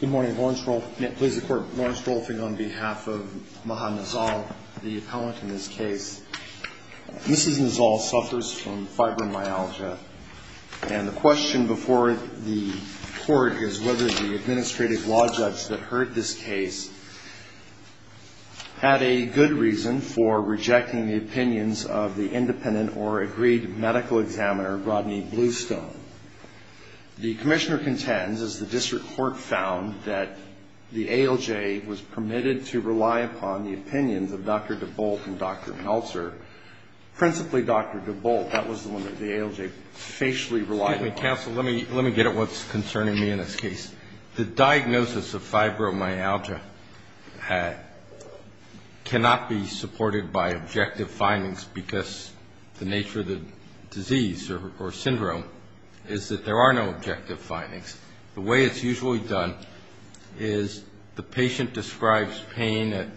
Good morning. Lawrence Rolfing on behalf of Maha Nazzal, the appellant in this case. Mrs. Nazzal suffers from fibromyalgia, and the question before the court is whether the administrative law judge that heard this case had a good reason for rejecting the opinions of the independent or agreed medical examiner, Rodney Bluestone. The commissioner contends, as the district court found, that the ALJ was permitted to rely upon the opinions of Dr. DeBolt and Dr. Meltzer, principally Dr. DeBolt. That was the one that the ALJ facially relied upon. Excuse me, counsel. Let me get at what's concerning me in this case. The diagnosis of fibromyalgia cannot be supported by objective findings because the nature of the disease or syndrome is that there are no objective findings. The way it's usually done is the patient describes pain at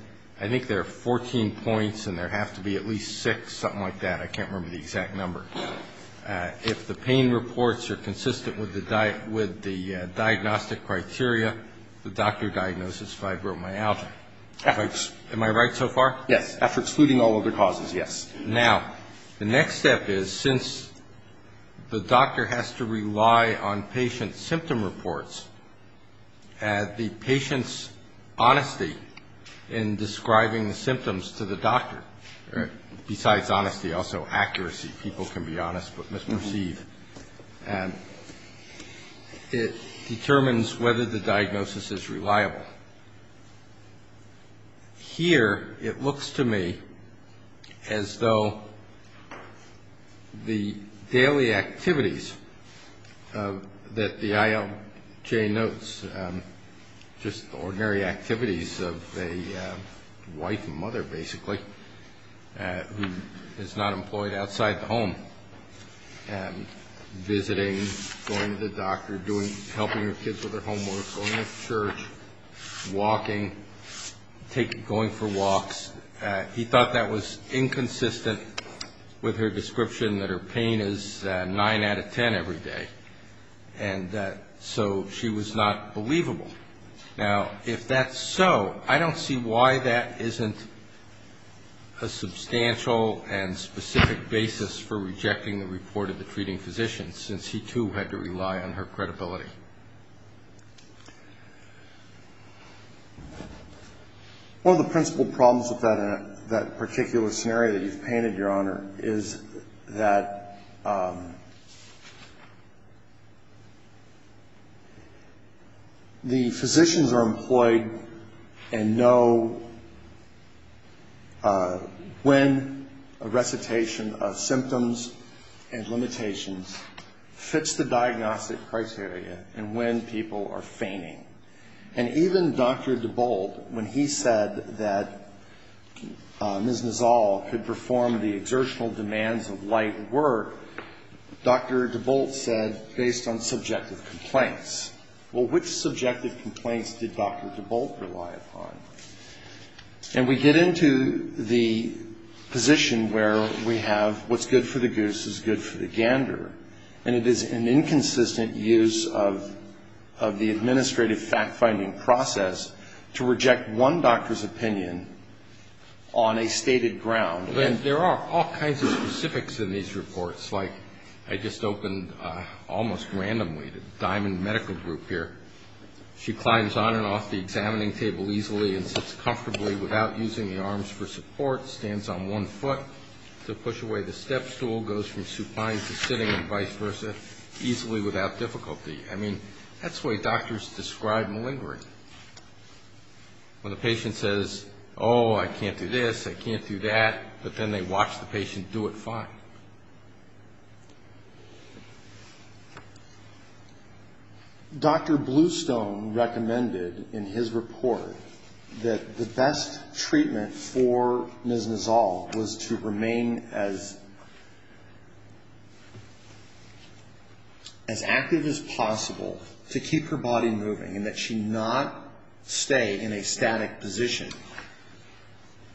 I think there are 14 points and there have to be at least six, something like that. I can't remember the exact number. If the pain reports are consistent with the diagnostic criteria, the doctor diagnoses fibromyalgia. Am I right so far? Yes. After excluding all other causes, yes. Now, the next step is since the doctor has to rely on patient symptom reports, the patient's honesty in describing the symptoms to the doctor, besides honesty, also accuracy, people can be honest, but misperceived, it determines whether the diagnosis is reliable. Here it looks to me as though the daily activities that the ALJ notes, just ordinary activities of a wife and mother, basically, who is not employed outside the home, visiting, going to the doctor, helping her kids with their homework, going to church, walking, going for walks, he thought that was inconsistent with her description that her pain is nine out of ten every day. And so she was not believable. Now, if that's so, I don't see why that isn't a substantial and specific basis for rejecting the report of the treating physician, since he, too, had to rely on her credibility. One of the principal problems with that particular scenario that you've painted, Your Honor, is that the physicians are employed and know when a recitation of symptoms and limitations fits the diagnostic criteria and when people are feigning. And even Dr. DeBolt, when he said that Ms. Nizal could perform the exertional demands of light work, Dr. DeBolt said, based on subjective complaints. Well, which subjective complaints did Dr. DeBolt rely upon? And we get into the position where we have what's good for the goose is good for the gander, and it is an inconsistent use of the administrative fact-finding process to reject one doctor's opinion on a stated ground. And there are all kinds of specifics in these reports, like I just opened almost randomly the Diamond Medical Group here. She climbs on and off the examining table easily and sits comfortably without using the arms for support, stands on one foot to push away the stepstool, goes from supine to sitting and vice versa easily without difficulty. I mean, that's the way doctors describe malingering. When a patient says, oh, I can't do this, I can't do that, but then they watch the patient do it fine. Dr. Bluestone recommended in his report that the best treatment for Ms. Nizal was to remain as active as possible to keep her body moving and that she not stay in a static position.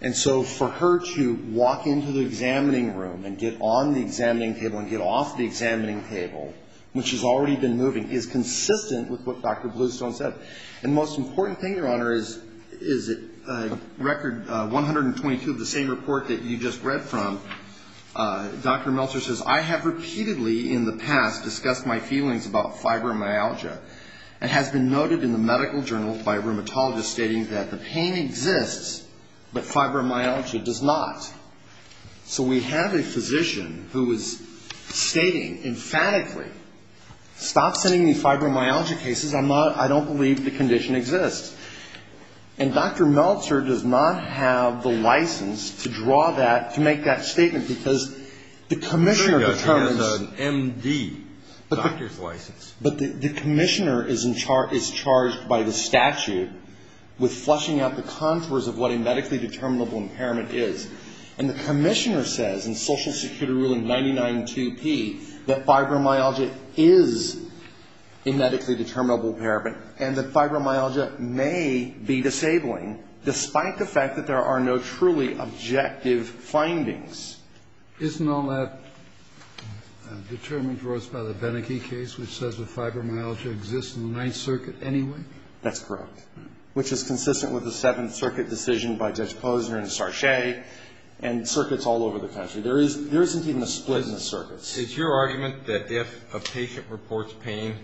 And so for her to walk into the examining room and get all of her limbs out of the way, that's not a good thing. And so for her to sit on the examining table and get off the examining table, which has already been moving, is consistent with what Dr. Bluestone said. And the most important thing, Your Honor, is in Record 122 of the same report that you just read from, Dr. Meltzer says, I have repeatedly in the past discussed my feelings about fibromyalgia. It has been noted in the medical journals by rheumatologists stating that the pain exists, but fibromyalgia does not. So we have a physician who is stating emphatically, stop sending me fibromyalgia cases, I'm not ‑‑ I don't believe the condition exists. And Dr. Meltzer does not have the license to draw that, to make that statement, because the commissioner determines ‑‑ The MD doctor's license. But the commissioner is charged by the statute with flushing out the contours of what a medically determinable impairment is. And the commissioner says in Social Security Ruling 992P that fibromyalgia is a medically determinable impairment and that fibromyalgia may be disabling, despite the fact that there are no truly objective findings. Isn't all that determined, of course, by the Beneke case, which says that fibromyalgia exists in the Ninth Circuit anyway? That's correct, which is consistent with the Seventh Circuit decision by Judge Posner and Sarchet and circuits all over the country. There isn't even a split in the circuits. It's your argument that if a patient reports pain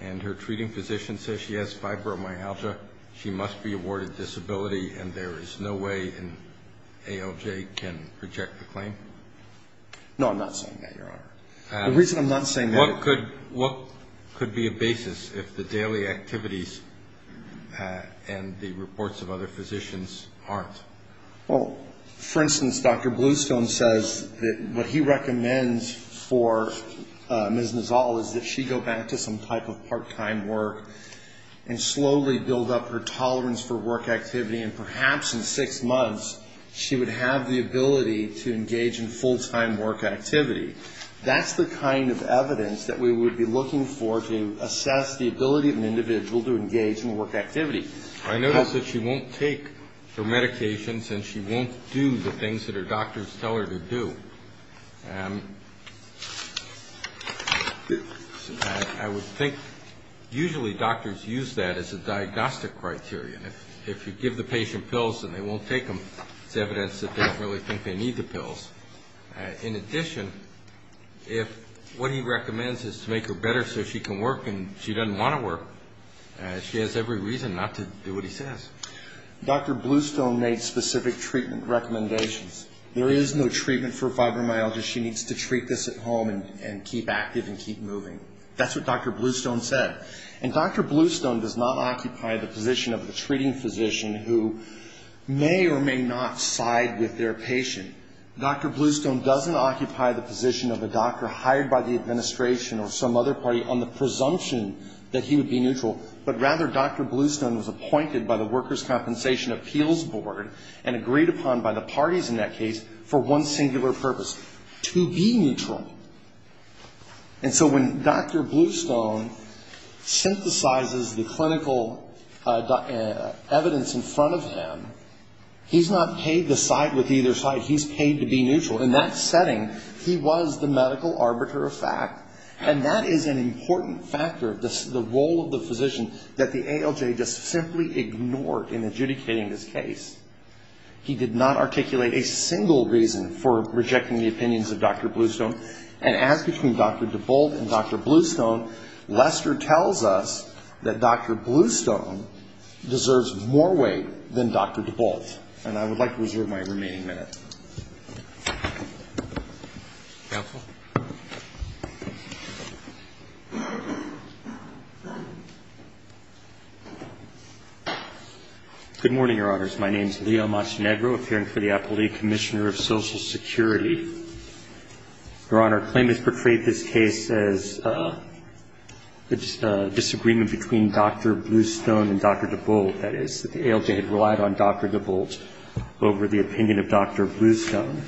and her treating physician says she has fibromyalgia, she must be awarded disability and there is no way an ALJ can reject the claim? No, I'm not saying that, Your Honor. The reason I'm not saying that is ‑‑ What could be a basis if the daily activities and the reports of other physicians aren't? Well, for instance, Dr. Bluestone says that what he recommends for Ms. Nizal is that she go back to some type of part‑time work and slowly build up her tolerance for work activity and perhaps in six months she would have the ability to engage in full‑time work activity. That's the kind of evidence that we would be looking for to assess the ability of an individual to engage in work activity. I notice that she won't take her medications and she won't do the things that her doctors tell her to do. I would think usually doctors use that as a diagnostic criterion. If you give the patient pills and they won't take them, it's evidence that they don't really think they need the pills. In addition, if what he recommends is to make her better so she can work and she doesn't want to work, she has every reason not to do what he says. Dr. Bluestone made specific treatment recommendations. There is no treatment for fibromyalgia. She needs to treat this at home and keep active and keep moving. That's what Dr. Bluestone said. And Dr. Bluestone does not occupy the position of a treating physician who may or may not side with their patient. Dr. Bluestone doesn't occupy the position of a doctor hired by the administration or some other party on the presumption that he would be neutral, but rather Dr. Bluestone was appointed by the Workers' Compensation Appeals Board and agreed upon by the parties in that case for one singular purpose, to be neutral. And so when Dr. Bluestone synthesizes the clinical evidence in front of him, he's not paid to side with either side. He's paid to be neutral. In that setting, he was the medical arbiter of fact. And that is an important factor of the role of the physician that the ALJ just simply ignored in adjudicating this case. He did not articulate a single reason for rejecting the opinions of Dr. Bluestone. And as between Dr. DeBolt and Dr. Bluestone, Lester tells us that Dr. Bluestone deserves more weight than Dr. DeBolt. And I would like to reserve my remaining minute. Thank you. Counsel. Good morning, Your Honors. My name is Leo Montenegro, appearing for the Appellate Commissioner of Social Security. Your Honor, claimants portrayed this case as a disagreement between Dr. Bluestone and Dr. DeBolt, that is, that the ALJ had relied on Dr. DeBolt over the opinion of Dr. Bluestone.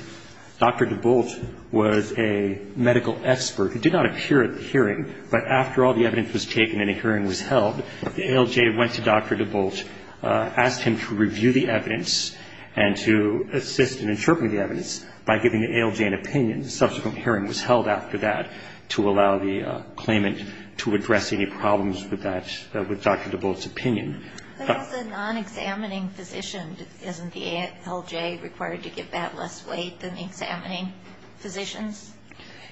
Dr. DeBolt was a medical expert who did not appear at the hearing. But after all the evidence was taken and a hearing was held, the ALJ went to Dr. DeBolt, asked him to review the evidence and to assist in interpreting the evidence by giving the ALJ an opinion. A subsequent hearing was held after that to allow the claimant to address any problems with that, with Dr. DeBolt's opinion. But as a non-examining physician, isn't the ALJ required to give that less weight than examining physicians?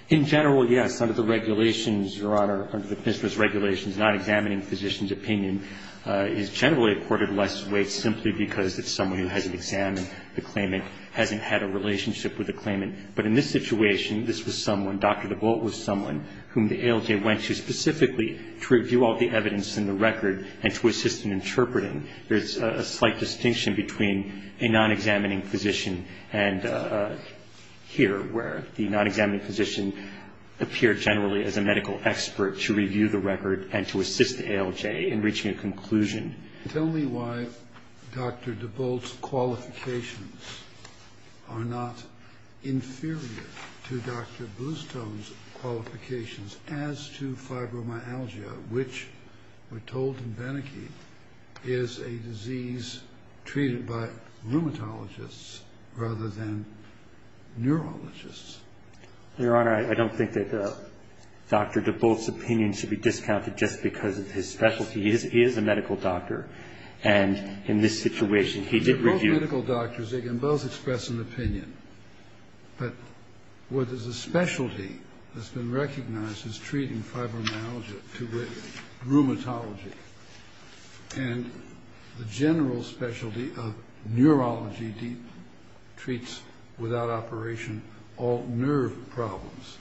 In general, yes. Under the regulations, Your Honor, under the business regulations, non-examining physicians' opinion is generally accorded less weight simply because it's someone who hasn't examined the claimant, hasn't had a relationship with the claimant. But in this situation, this was someone, Dr. DeBolt was someone, whom the ALJ went to specifically to review all the evidence in the record and to assist in interpreting. There's a slight distinction between a non-examining physician and here, where the non-examining physician appeared generally as a medical expert to review the record and to assist the ALJ in reaching a conclusion. Tell me why Dr. DeBolt's qualifications are not inferior to Dr. Bluestone's qualifications as to fibromyalgia, which we're told in Beneke is a disease treated by rheumatologists rather than neurologists. Your Honor, I don't think that Dr. DeBolt's opinion should be discounted just because of his specialty. He is a medical doctor, and in this situation, he did review. They're both medical doctors. They can both express an opinion. But what is the specialty that's been recognized as treating fibromyalgia to rheumatology? And the general specialty of neurology treats without operation all nerve problems.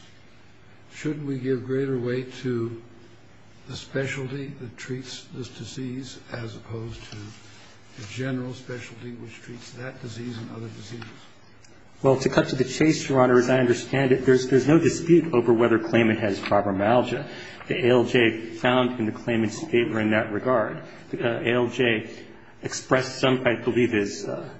Should we give greater weight to the specialty that treats this disease as opposed to the general specialty which treats that disease and other diseases? Well, to cut to the chase, Your Honor, as I understand it, there's no dispute over whether Klayman has fibromyalgia. The ALJ found in the Klayman's favor in that regard. The ALJ expressed some, I believe, the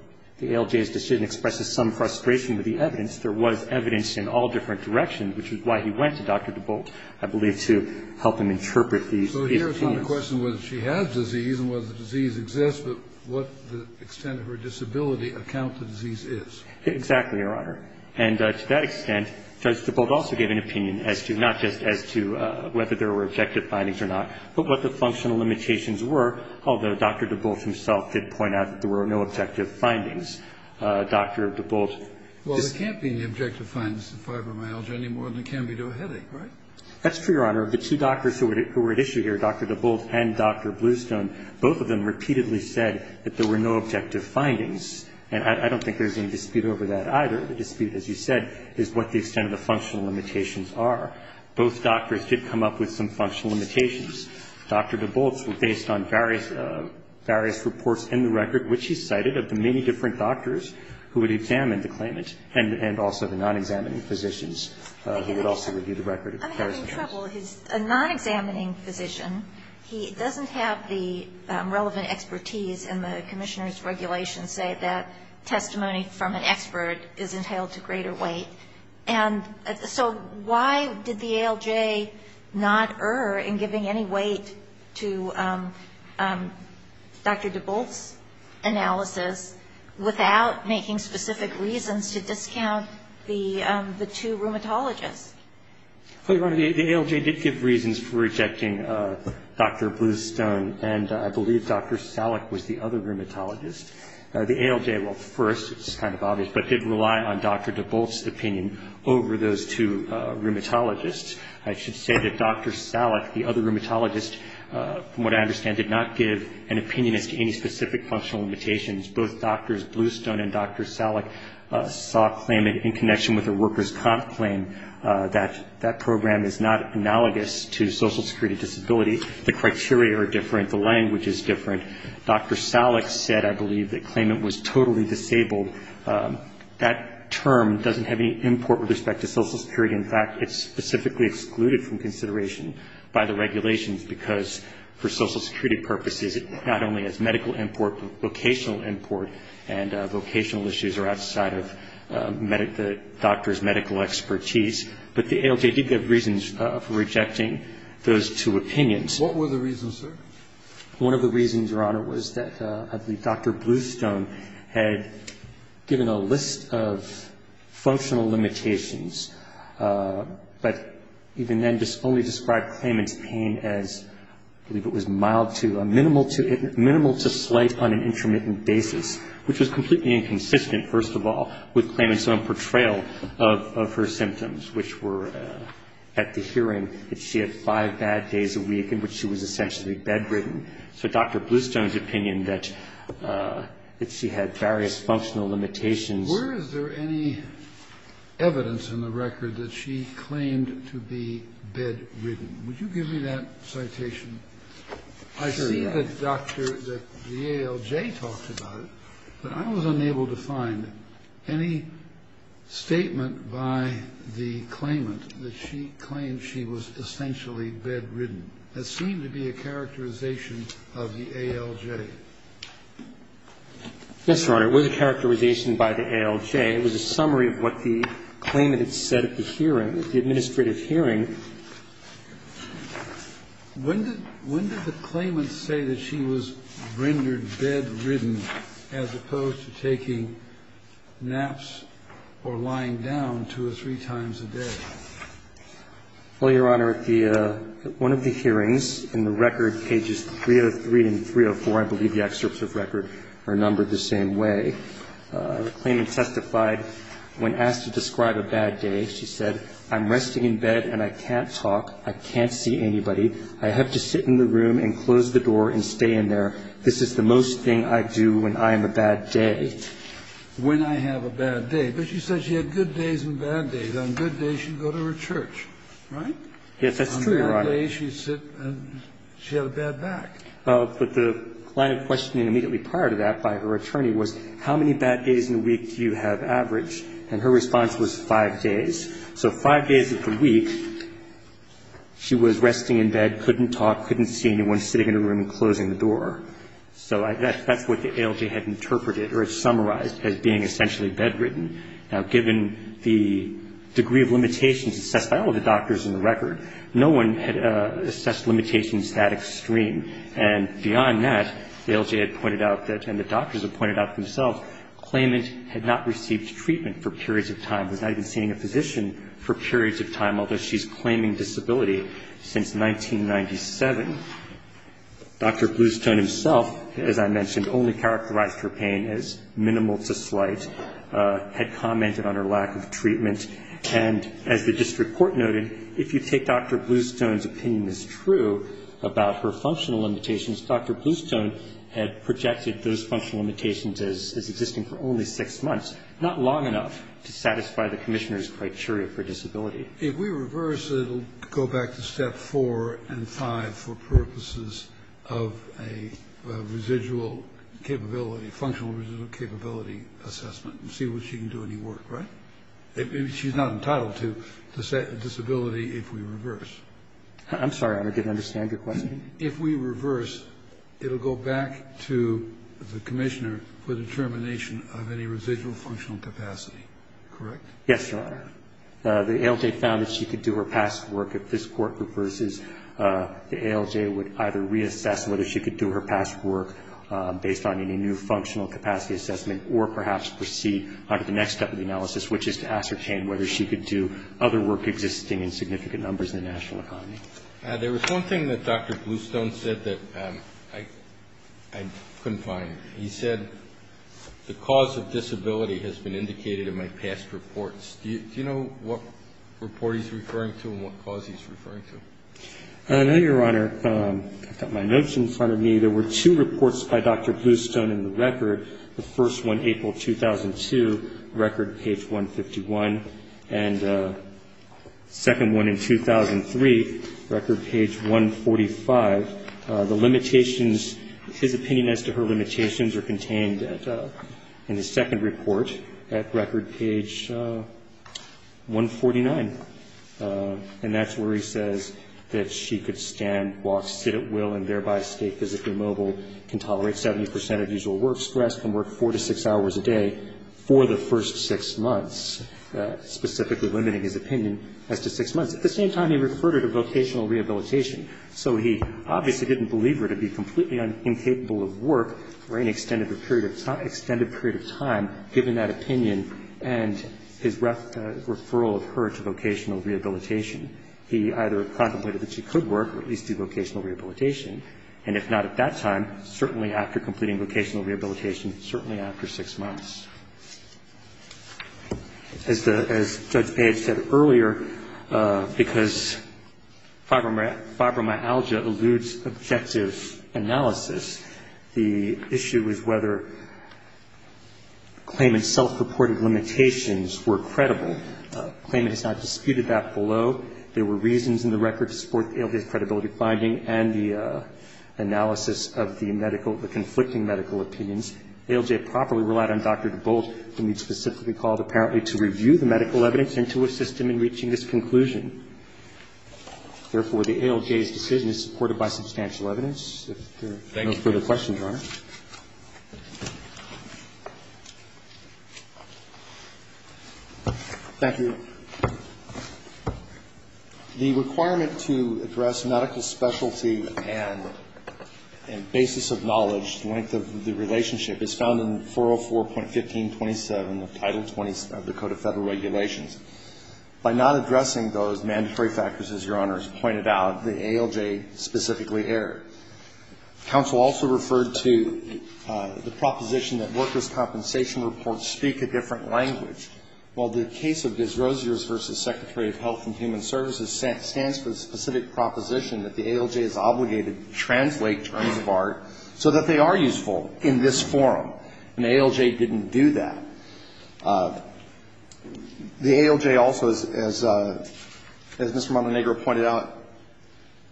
ALJ's decision expresses some frustration with the evidence. There was evidence in all different directions, which is why he went to Dr. DeBolt, I believe, to help him interpret these opinions. So here's not the question whether she has disease and whether the disease exists, but what the extent of her disability account the disease is. Exactly, Your Honor. And to that extent, Judge DeBolt also gave an opinion as to, not just as to whether there were objective findings or not, but what the functional limitations were, although Dr. DeBolt himself did point out that there were no objective findings. Well, there can't be any objective findings in fibromyalgia any more than there can be to a headache, right? That's true, Your Honor. The two doctors who were at issue here, Dr. DeBolt and Dr. Bluestone, both of them repeatedly said that there were no objective findings, and I don't think there's any dispute over that either. The dispute, as you said, is what the extent of the functional limitations are. Both doctors did come up with some functional limitations. Dr. DeBolt's were based on various reports in the record, which he cited, of the many different doctors who had examined the claimant, and also the non-examining physicians who had also reviewed the record. I'm having trouble. He's a non-examining physician. He doesn't have the relevant expertise in the Commissioner's regulations say that testimony from an expert is entailed to greater weight. And so why did the ALJ not err in giving any weight to Dr. DeBolt's analysis without making specific reasons to discount the two rheumatologists? Well, Your Honor, the ALJ did give reasons for rejecting Dr. Bluestone, and I believe Dr. Salek was the other rheumatologist. The ALJ, well, first, it's kind of obvious, but did rely on Dr. DeBolt's opinion over those two rheumatologists. I should say that Dr. Salek, the other rheumatologist, from what I understand, did not give an opinion as to any specific functional limitations. Both Drs. Bluestone and Dr. Salek saw a claimant in connection with a workers' comp claim that that program is not analogous to social security disability. The criteria are different. The language is different. Dr. Salek said, I believe, that the claimant was totally disabled. That term doesn't have any import with respect to social security. In fact, it's specifically excluded from consideration by the regulations because for social security purposes, not only is medical import, but vocational import and vocational issues are outside of the doctor's medical expertise. But the ALJ did give reasons for rejecting those two opinions. What were the reasons, sir? One of the reasons, Your Honor, was that I believe Dr. Bluestone had given a list of functional limitations, but even then only described claimant's pain as, I believe it was mild to a minimal to slight on an intermittent basis, which was completely inconsistent, first of all, with claimant's own portrayal of her symptoms, which were at the hearing that she had five bad days a week in which she was essentially bedridden. So Dr. Bluestone's opinion that she had various functional limitations. Where is there any evidence in the record that she claimed to be bedridden? Would you give me that citation? I see that, Doctor, that the ALJ talks about it, but I was unable to find any statement by the claimant that she claimed she was essentially bedridden. That seemed to be a characterization of the ALJ. Yes, Your Honor. It was a characterization by the ALJ. It was a summary of what the claimant had said at the hearing, at the administrative hearing. When did the claimant say that she was rendered bedridden as opposed to taking naps or lying down two or three times a day? Well, Your Honor, at the one of the hearings in the record, pages 303 and 304, I believe the excerpts of record are numbered the same way, the claimant testified when asked to describe a bad day, she said, I'm resting in bed and I can't talk. I can't see anybody. I have to sit in the room and close the door and stay in there. This is the most thing I do when I am a bad day. When I have a bad day. But she said she had good days and bad days. On good days, she'd go to her church, right? Yes, that's true, Your Honor. On bad days, she'd sit and she had a bad back. But the line of questioning immediately prior to that by her attorney was how many bad days in a week do you have average? And her response was five days. So five days of the week, she was resting in bed, couldn't talk, couldn't see anyone sitting in her room and closing the door. So that's what the ALJ had interpreted or summarized as being essentially bedridden. Now, given the degree of limitations assessed by all the doctors in the record, no one had assessed limitations that extreme. And beyond that, the ALJ had pointed out that, and the doctors had pointed out themselves, claimant had not received treatment for periods of time, was not even seeing a physician for periods of time, although she's claiming disability since 1997. Dr. Bluestone himself, as I mentioned, only characterized her pain as minimal to slight, had commented on her lack of treatment. And as the district court noted, if you take Dr. Bluestone's opinion as true about her functional limitations, Dr. Bluestone had projected those functional limitations as existing for only six months, not long enough to satisfy the commissioner's criteria for disability. If we reverse, it will go back to step four and five for purposes of a residual capability, functional residual capability assessment and see if she can do any work, right? She's not entitled to disability if we reverse. I'm sorry, Your Honor. I didn't understand your question. If we reverse, it will go back to the commissioner for determination of any residual functional capacity, correct? Yes, Your Honor. The ALJ found that she could do her past work. If this court reverses, the ALJ would either reassess whether she could do her past work based on any new functional capacity assessment or perhaps proceed onto the next step of the analysis, which is to ascertain whether she could do other work existing in significant numbers in the national economy. There was one thing that Dr. Bluestone said that I couldn't find. He said, the cause of disability has been indicated in my past reports. Do you know what report he's referring to and what cause he's referring to? I know, Your Honor. I've got my notes in front of me. There were two reports by Dr. Bluestone in the record. The first one, April 2002, record page 151, and the second one in 2003, record page 145. The limitations, his opinion as to her limitations, are contained in the second report at record page 149. And that's where he says that she could stand, walk, sit at will, and thereby stay physically mobile, can tolerate 70 percent of usual work stress, can work four to six hours a day for the first six months, specifically limiting his opinion as to six months. At the same time, he referred her to vocational rehabilitation. So he obviously didn't believe her to be completely incapable of work for any extended period of time, given that opinion and his referral of her to vocational rehabilitation. He either contemplated that she could work or at least do vocational rehabilitation, and if not at that time, certainly after completing vocational rehabilitation, certainly after six months. As Judge Page said earlier, because fibromyalgia eludes objective analysis, the issue is whether claimant's self-reported limitations were credible. Claimant has not disputed that below. There were reasons in the record to support ALJ's credibility finding and the analysis of the medical, the conflicting medical opinions. ALJ properly relied on Dr. DeBolt, whom we specifically called apparently to review the medical evidence and to assist him in reaching this conclusion. Therefore, the ALJ's decision is supported by substantial evidence. If there are no further questions, Your Honor. Thank you. The requirement to address medical specialty and basis of knowledge, the length of the relationship is found in 404.1527 of Title 27 of the Code of Federal Regulations. By not addressing those mandatory factors, as Your Honor has pointed out, the ALJ specifically erred. Counsel also referred to the proposition that workers' compensation reports speak a different language. Well, the case of Ms. Rosiers v. Secretary of Health and Human Services stands for the specific proposition that the ALJ is obligated to translate terms of art so that they are useful in this forum. And the ALJ didn't do that. The ALJ also, as Mr. Montenegro pointed out,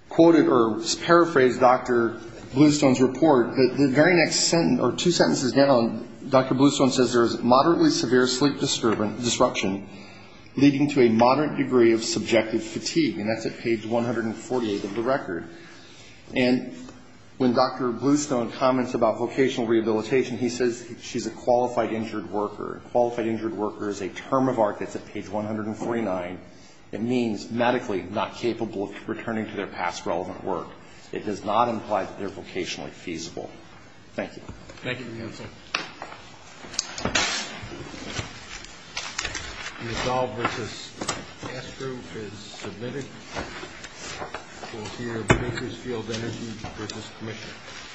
quoted or paraphrased Dr. Bluestone's report. The very next sentence, or two sentences down, Dr. Bluestone says there is moderately severe sleep disruption, leading to a moderate degree of subjective fatigue. And that's at page 148 of the record. And when Dr. Bluestone comments about vocational rehabilitation, he says she's a qualified injured worker. Qualified injured worker is a term of art that's at page 149. It means medically not capable of returning to their past relevant work. It does not imply that they're vocationally feasible. Thank you. Thank you, counsel. Thank you. Thank you. The addall v. Astro is submitted. We'll hear Bakersfield Energy v. Commissioner.